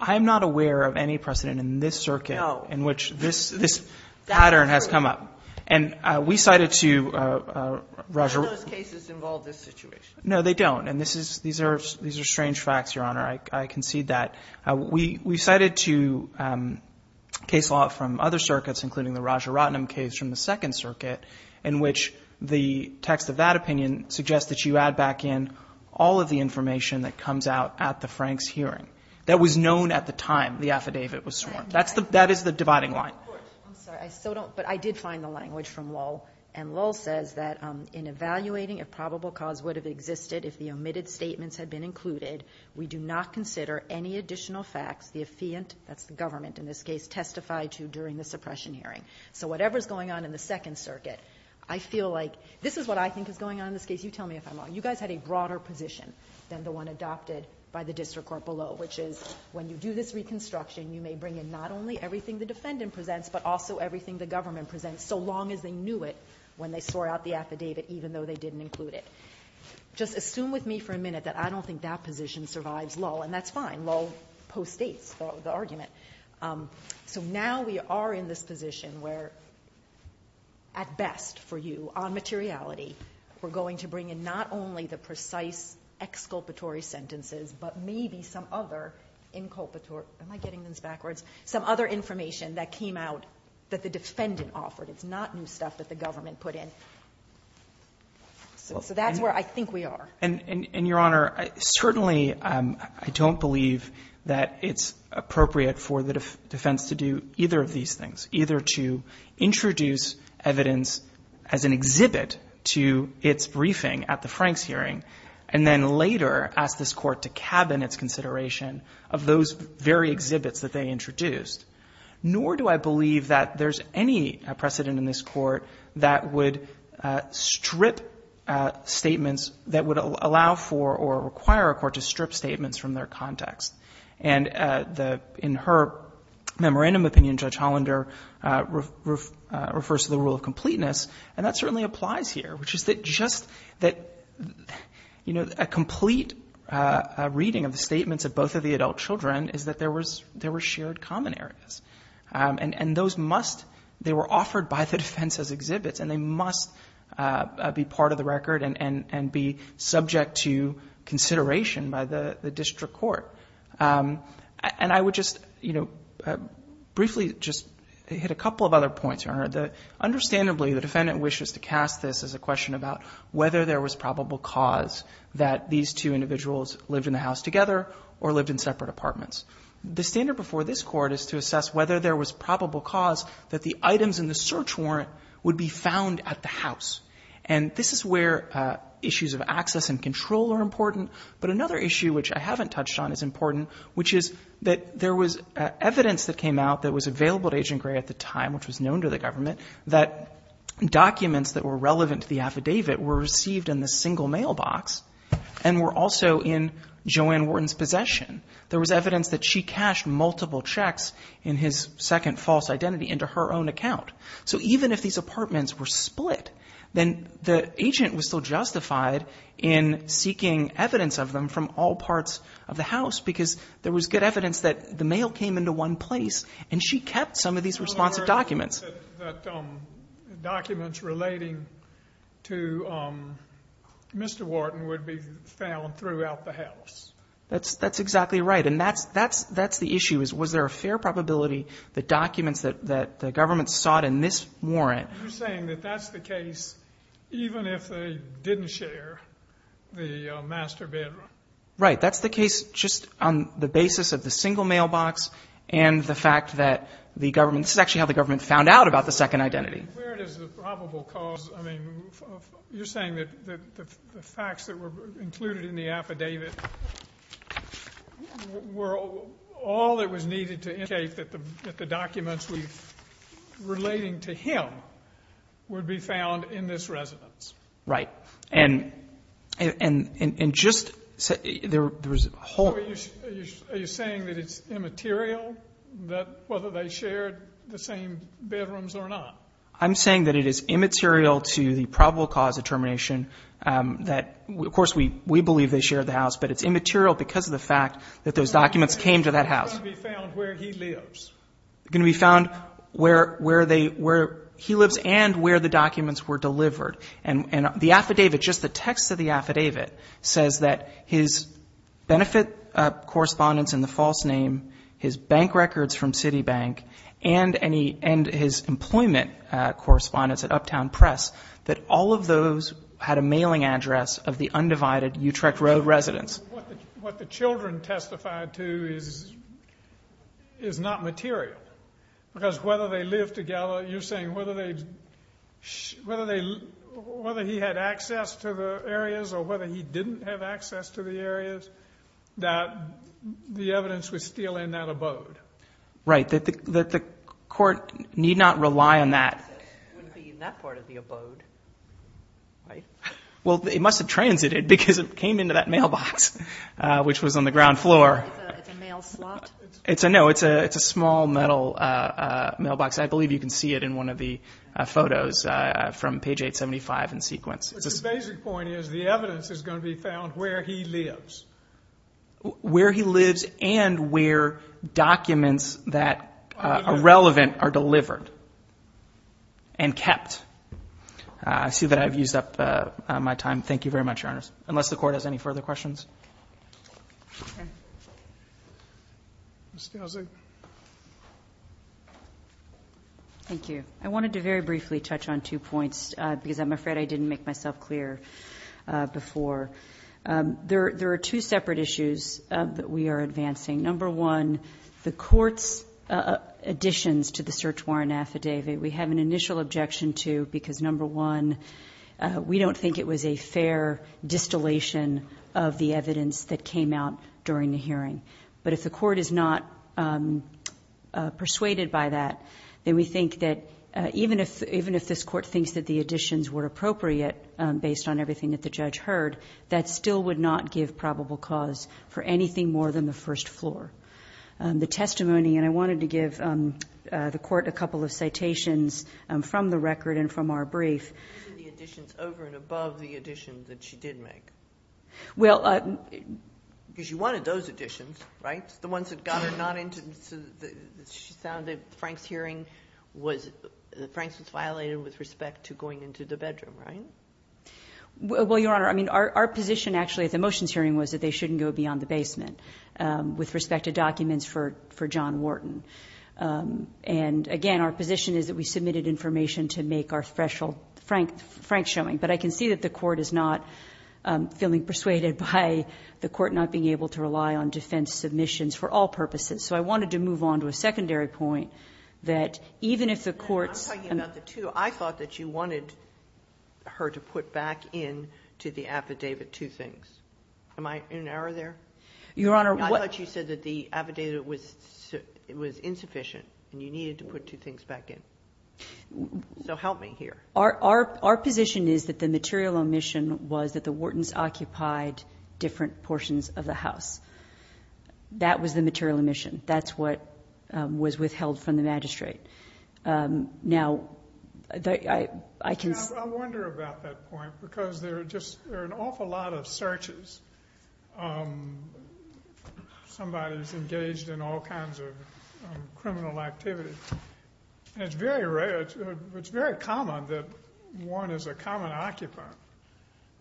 I'm not aware of any precedent in this circuit in which this pattern has come up. And we cited to Raja Rotnum. None of those cases involve this situation. No, they don't. And these are strange facts, Your Honor. I concede that. We cited to case law from other circuits, including the Raja Rotnum case from the Second Circuit, in which the text of that opinion suggests that you add back in all of the information that comes out at the Franks hearing that was known at the time the affidavit was sworn. That is the dividing line. I'm sorry, but I did find the language from Lowell. And Lowell says that in evaluating if probable cause would have existed if the omitted statements had been included, we do not consider any additional facts the affiant, that's the government in this case, testified to during the suppression hearing. So whatever is going on in the Second Circuit, I feel like this is what I think is going on in this case. You tell me if I'm wrong. You guys had a broader position than the one adopted by the district court below, which is when you do this reconstruction, you may bring in not only everything the defendant presents, but also everything the government presents, so long as they knew it when they swore out the affidavit, even though they didn't include it. Just assume with me for a minute that I don't think that position survives Lowell. And that's fine. Lowell postdates the argument. So now we are in this position where, at best for you, on materiality, we're going to include not only the precise exculpatory sentences, but maybe some other inculpatory am I getting this backwards, some other information that came out that the defendant offered. It's not new stuff that the government put in. So that's where I think we are. And, Your Honor, certainly I don't believe that it's appropriate for the defense to do either of these things, either to introduce evidence as an exhibit to its briefing at the Franks hearing, and then later ask this Court to cabin its consideration of those very exhibits that they introduced. Nor do I believe that there's any precedent in this Court that would strip statements that would allow for or require a court to strip statements from their context. And in her memorandum opinion, Judge Hollander refers to the rule of completeness, and that certainly applies here, which is that just that, you know, a complete reading of the statements of both of the adult children is that there were shared common areas. And those must, they were offered by the defense as exhibits, and they must be part of the record and be subject to consideration by the district court. And I would just, you know, briefly just hit a couple of other points, Your Honor. Understandably, the defendant wishes to cast this as a question about whether there was probable cause that these two individuals lived in the house together or lived in separate apartments. The standard before this Court is to assess whether there was probable cause that the items in the search warrant would be found at the house. And this is where issues of access and control are important. But another issue which I haven't touched on is important, which is that there was evidence that came out that was available to Agent Gray at the time, which was known to the government, that documents that were relevant to the affidavit were received in the single mailbox and were also in Joanne Wharton's possession. There was evidence that she cashed multiple checks in his second false identity into her own account. So even if these apartments were split, then the agent was still justified in seeking evidence of them from all parts of the house because there was good evidence that the mail came into one place. And she kept some of these responsive documents. That documents relating to Mr. Wharton would be found throughout the house. That's exactly right. And that's the issue, is was there a fair probability that documents that the government sought in this warrant... You're saying that that's the case even if they didn't share the master bedroom? Right. That's the case just on the basis of the single mailbox and the fact that the government... This is actually how the government found out about the second identity. Where does the probable cause... I mean, you're saying that the facts that were included in the affidavit were all that was needed to indicate that the documents relating to him would be found in this residence? Right. And just... Are you saying that it's immaterial that whether they shared the same bedrooms or not? I'm saying that it is immaterial to the probable cause determination that, of course, we believe they shared the house, but it's immaterial because of the fact that those documents came to that house. It's going to be found where he lives. It's going to be found where he lives and where the documents were delivered. And the affidavit, just the text of the affidavit, says that his benefit correspondence in the false name, his bank records from Citibank, and his employment correspondence at Uptown Press, that all of those had a mailing address of the undivided Utrecht Road residence. What the children testified to is not material because whether they live together... You're saying whether he had access to the areas or whether he didn't have access to the areas, that the evidence was still in that abode? Right, that the court need not rely on that. The evidence wouldn't be in that part of the abode, right? Well, it must have transited because it came into that mailbox, which was on the ground floor. It's a mail slot? No, it's a small metal mailbox. I believe you can see it in one of the photos from page 875 in sequence. But the basic point is the evidence is going to be found where he lives. Where he lives and where documents that are relevant are delivered and kept. I see that I've used up my time. Thank you very much, Your Honors. Unless the court has any further questions? Mr. Elzig? Thank you. I wanted to very briefly touch on two points because I'm afraid I didn't make myself clear before. There are two separate issues that we are advancing. Number one, the court's additions to the search warrant affidavit. We have an initial objection to because number one, we don't think it was a fair distillation of the evidence that came out during the hearing. But if the court is not persuaded by that, then we think that even if this court thinks that the additions were appropriate based on everything that the judge heard, that still would not give probable cause for anything more than the first floor. The testimony, and I wanted to give the court a couple of citations from the record and from our brief. What are the additions over and above the additions that she did make? Well, because you wanted those additions, right? The ones that got her not into, that she found that Frank's hearing was, that Frank's was violated with respect to going into the bedroom, right? Well, Your Honor, I mean, our position actually at the motions hearing was that they shouldn't go beyond the basement with respect to documents for John Wharton. And again, our position is that we submitted information to make our threshold Frank showing. But I can see that the court is not feeling persuaded by the court not being able to rely on defense submissions for all purposes. So I wanted to move on to a secondary point that even if the court's... And I'm talking about the two. I thought that you wanted her to put back in to the affidavit two things. Am I in error there? Your Honor, what... I thought you said that the affidavit was insufficient and you needed to put two things back in. So help me here. Our position is that the material omission was that the Whartons occupied different portions of the house. That was the material omission. That's what was withheld from the magistrate. Now, I can... I wonder about that point because there are just an awful lot of searches. Somebody's engaged in all kinds of criminal activity. And it's very rare... It's very common that one is a common occupant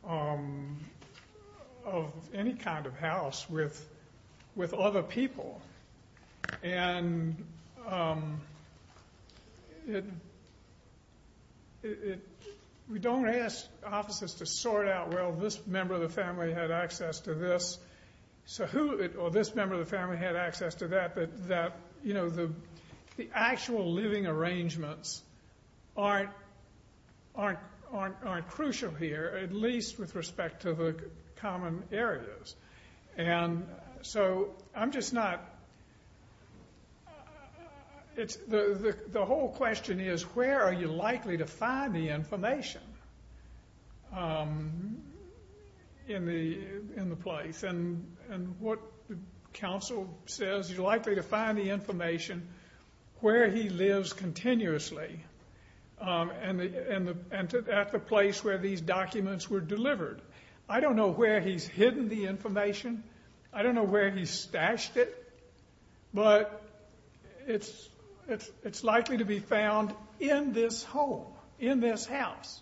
of any kind of house with other people. And we don't ask officers to sort out, well, this member of the family had access to this. So who... This member of the family had access to that. But the actual living arrangements aren't crucial here, at least with respect to the common areas. And so I'm just not... The whole question is, where are you likely to find the information in the place? And what counsel says, you're likely to find the information where he lives continuously at the place where these documents were delivered. I don't know where he's hidden the information. I don't know where he stashed it. But it's likely to be found in this home, in this house.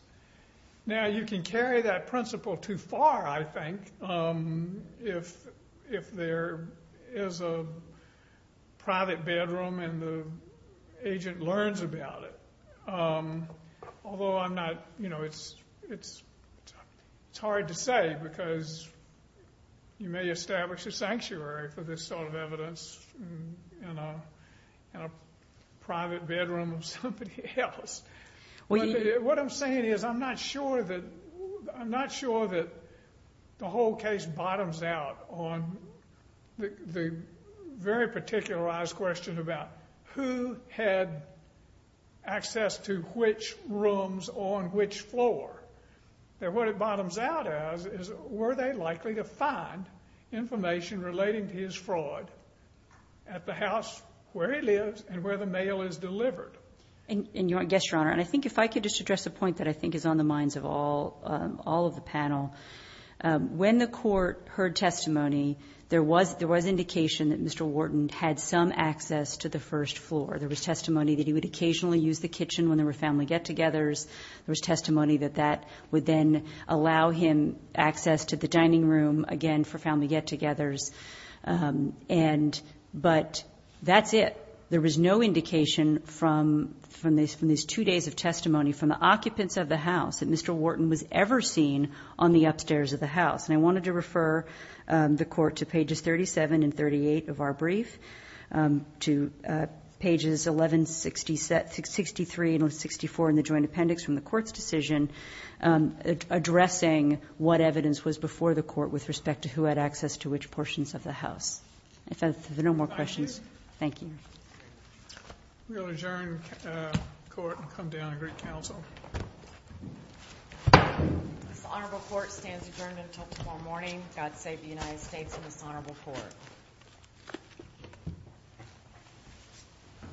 Now, you can carry that principle too far, I think. If there is a private bedroom and the agent learns about it. Although I'm not... It's hard to say because you may establish a sanctuary for this sort of evidence in a private bedroom of somebody else. What I'm saying is, I'm not sure that... I'm not sure that the whole case bottoms out on the very particularized question about who had access to which rooms on which floor. And what it bottoms out as is, were they likely to find information relating to his fraud at the house where he lives and where the mail is delivered? And yes, Your Honor, and I think if I could just address a point that I think is on the minds of all of the panel. When the court heard testimony, there was indication that Mr. Wharton had some access to the first floor. There was testimony that he would occasionally use the kitchen when there were family get-togethers. There was testimony that that would then allow him access to the dining room, again, for family get-togethers. But that's it. There was no indication from these two days of testimony from the occupants of the house that Mr. Wharton was ever seen on the upstairs of the house. And I wanted to refer the court to pages 37 and 38 of our brief, to pages 11, 63 and 64 in the joint appendix from the court's decision, addressing what evidence was before the court with respect to who had access to which portions of the house. If there are no more questions, thank you. I'm going to adjourn court and come down and greet counsel. This honorable court stands adjourned until tomorrow morning. God save the United States and this honorable court.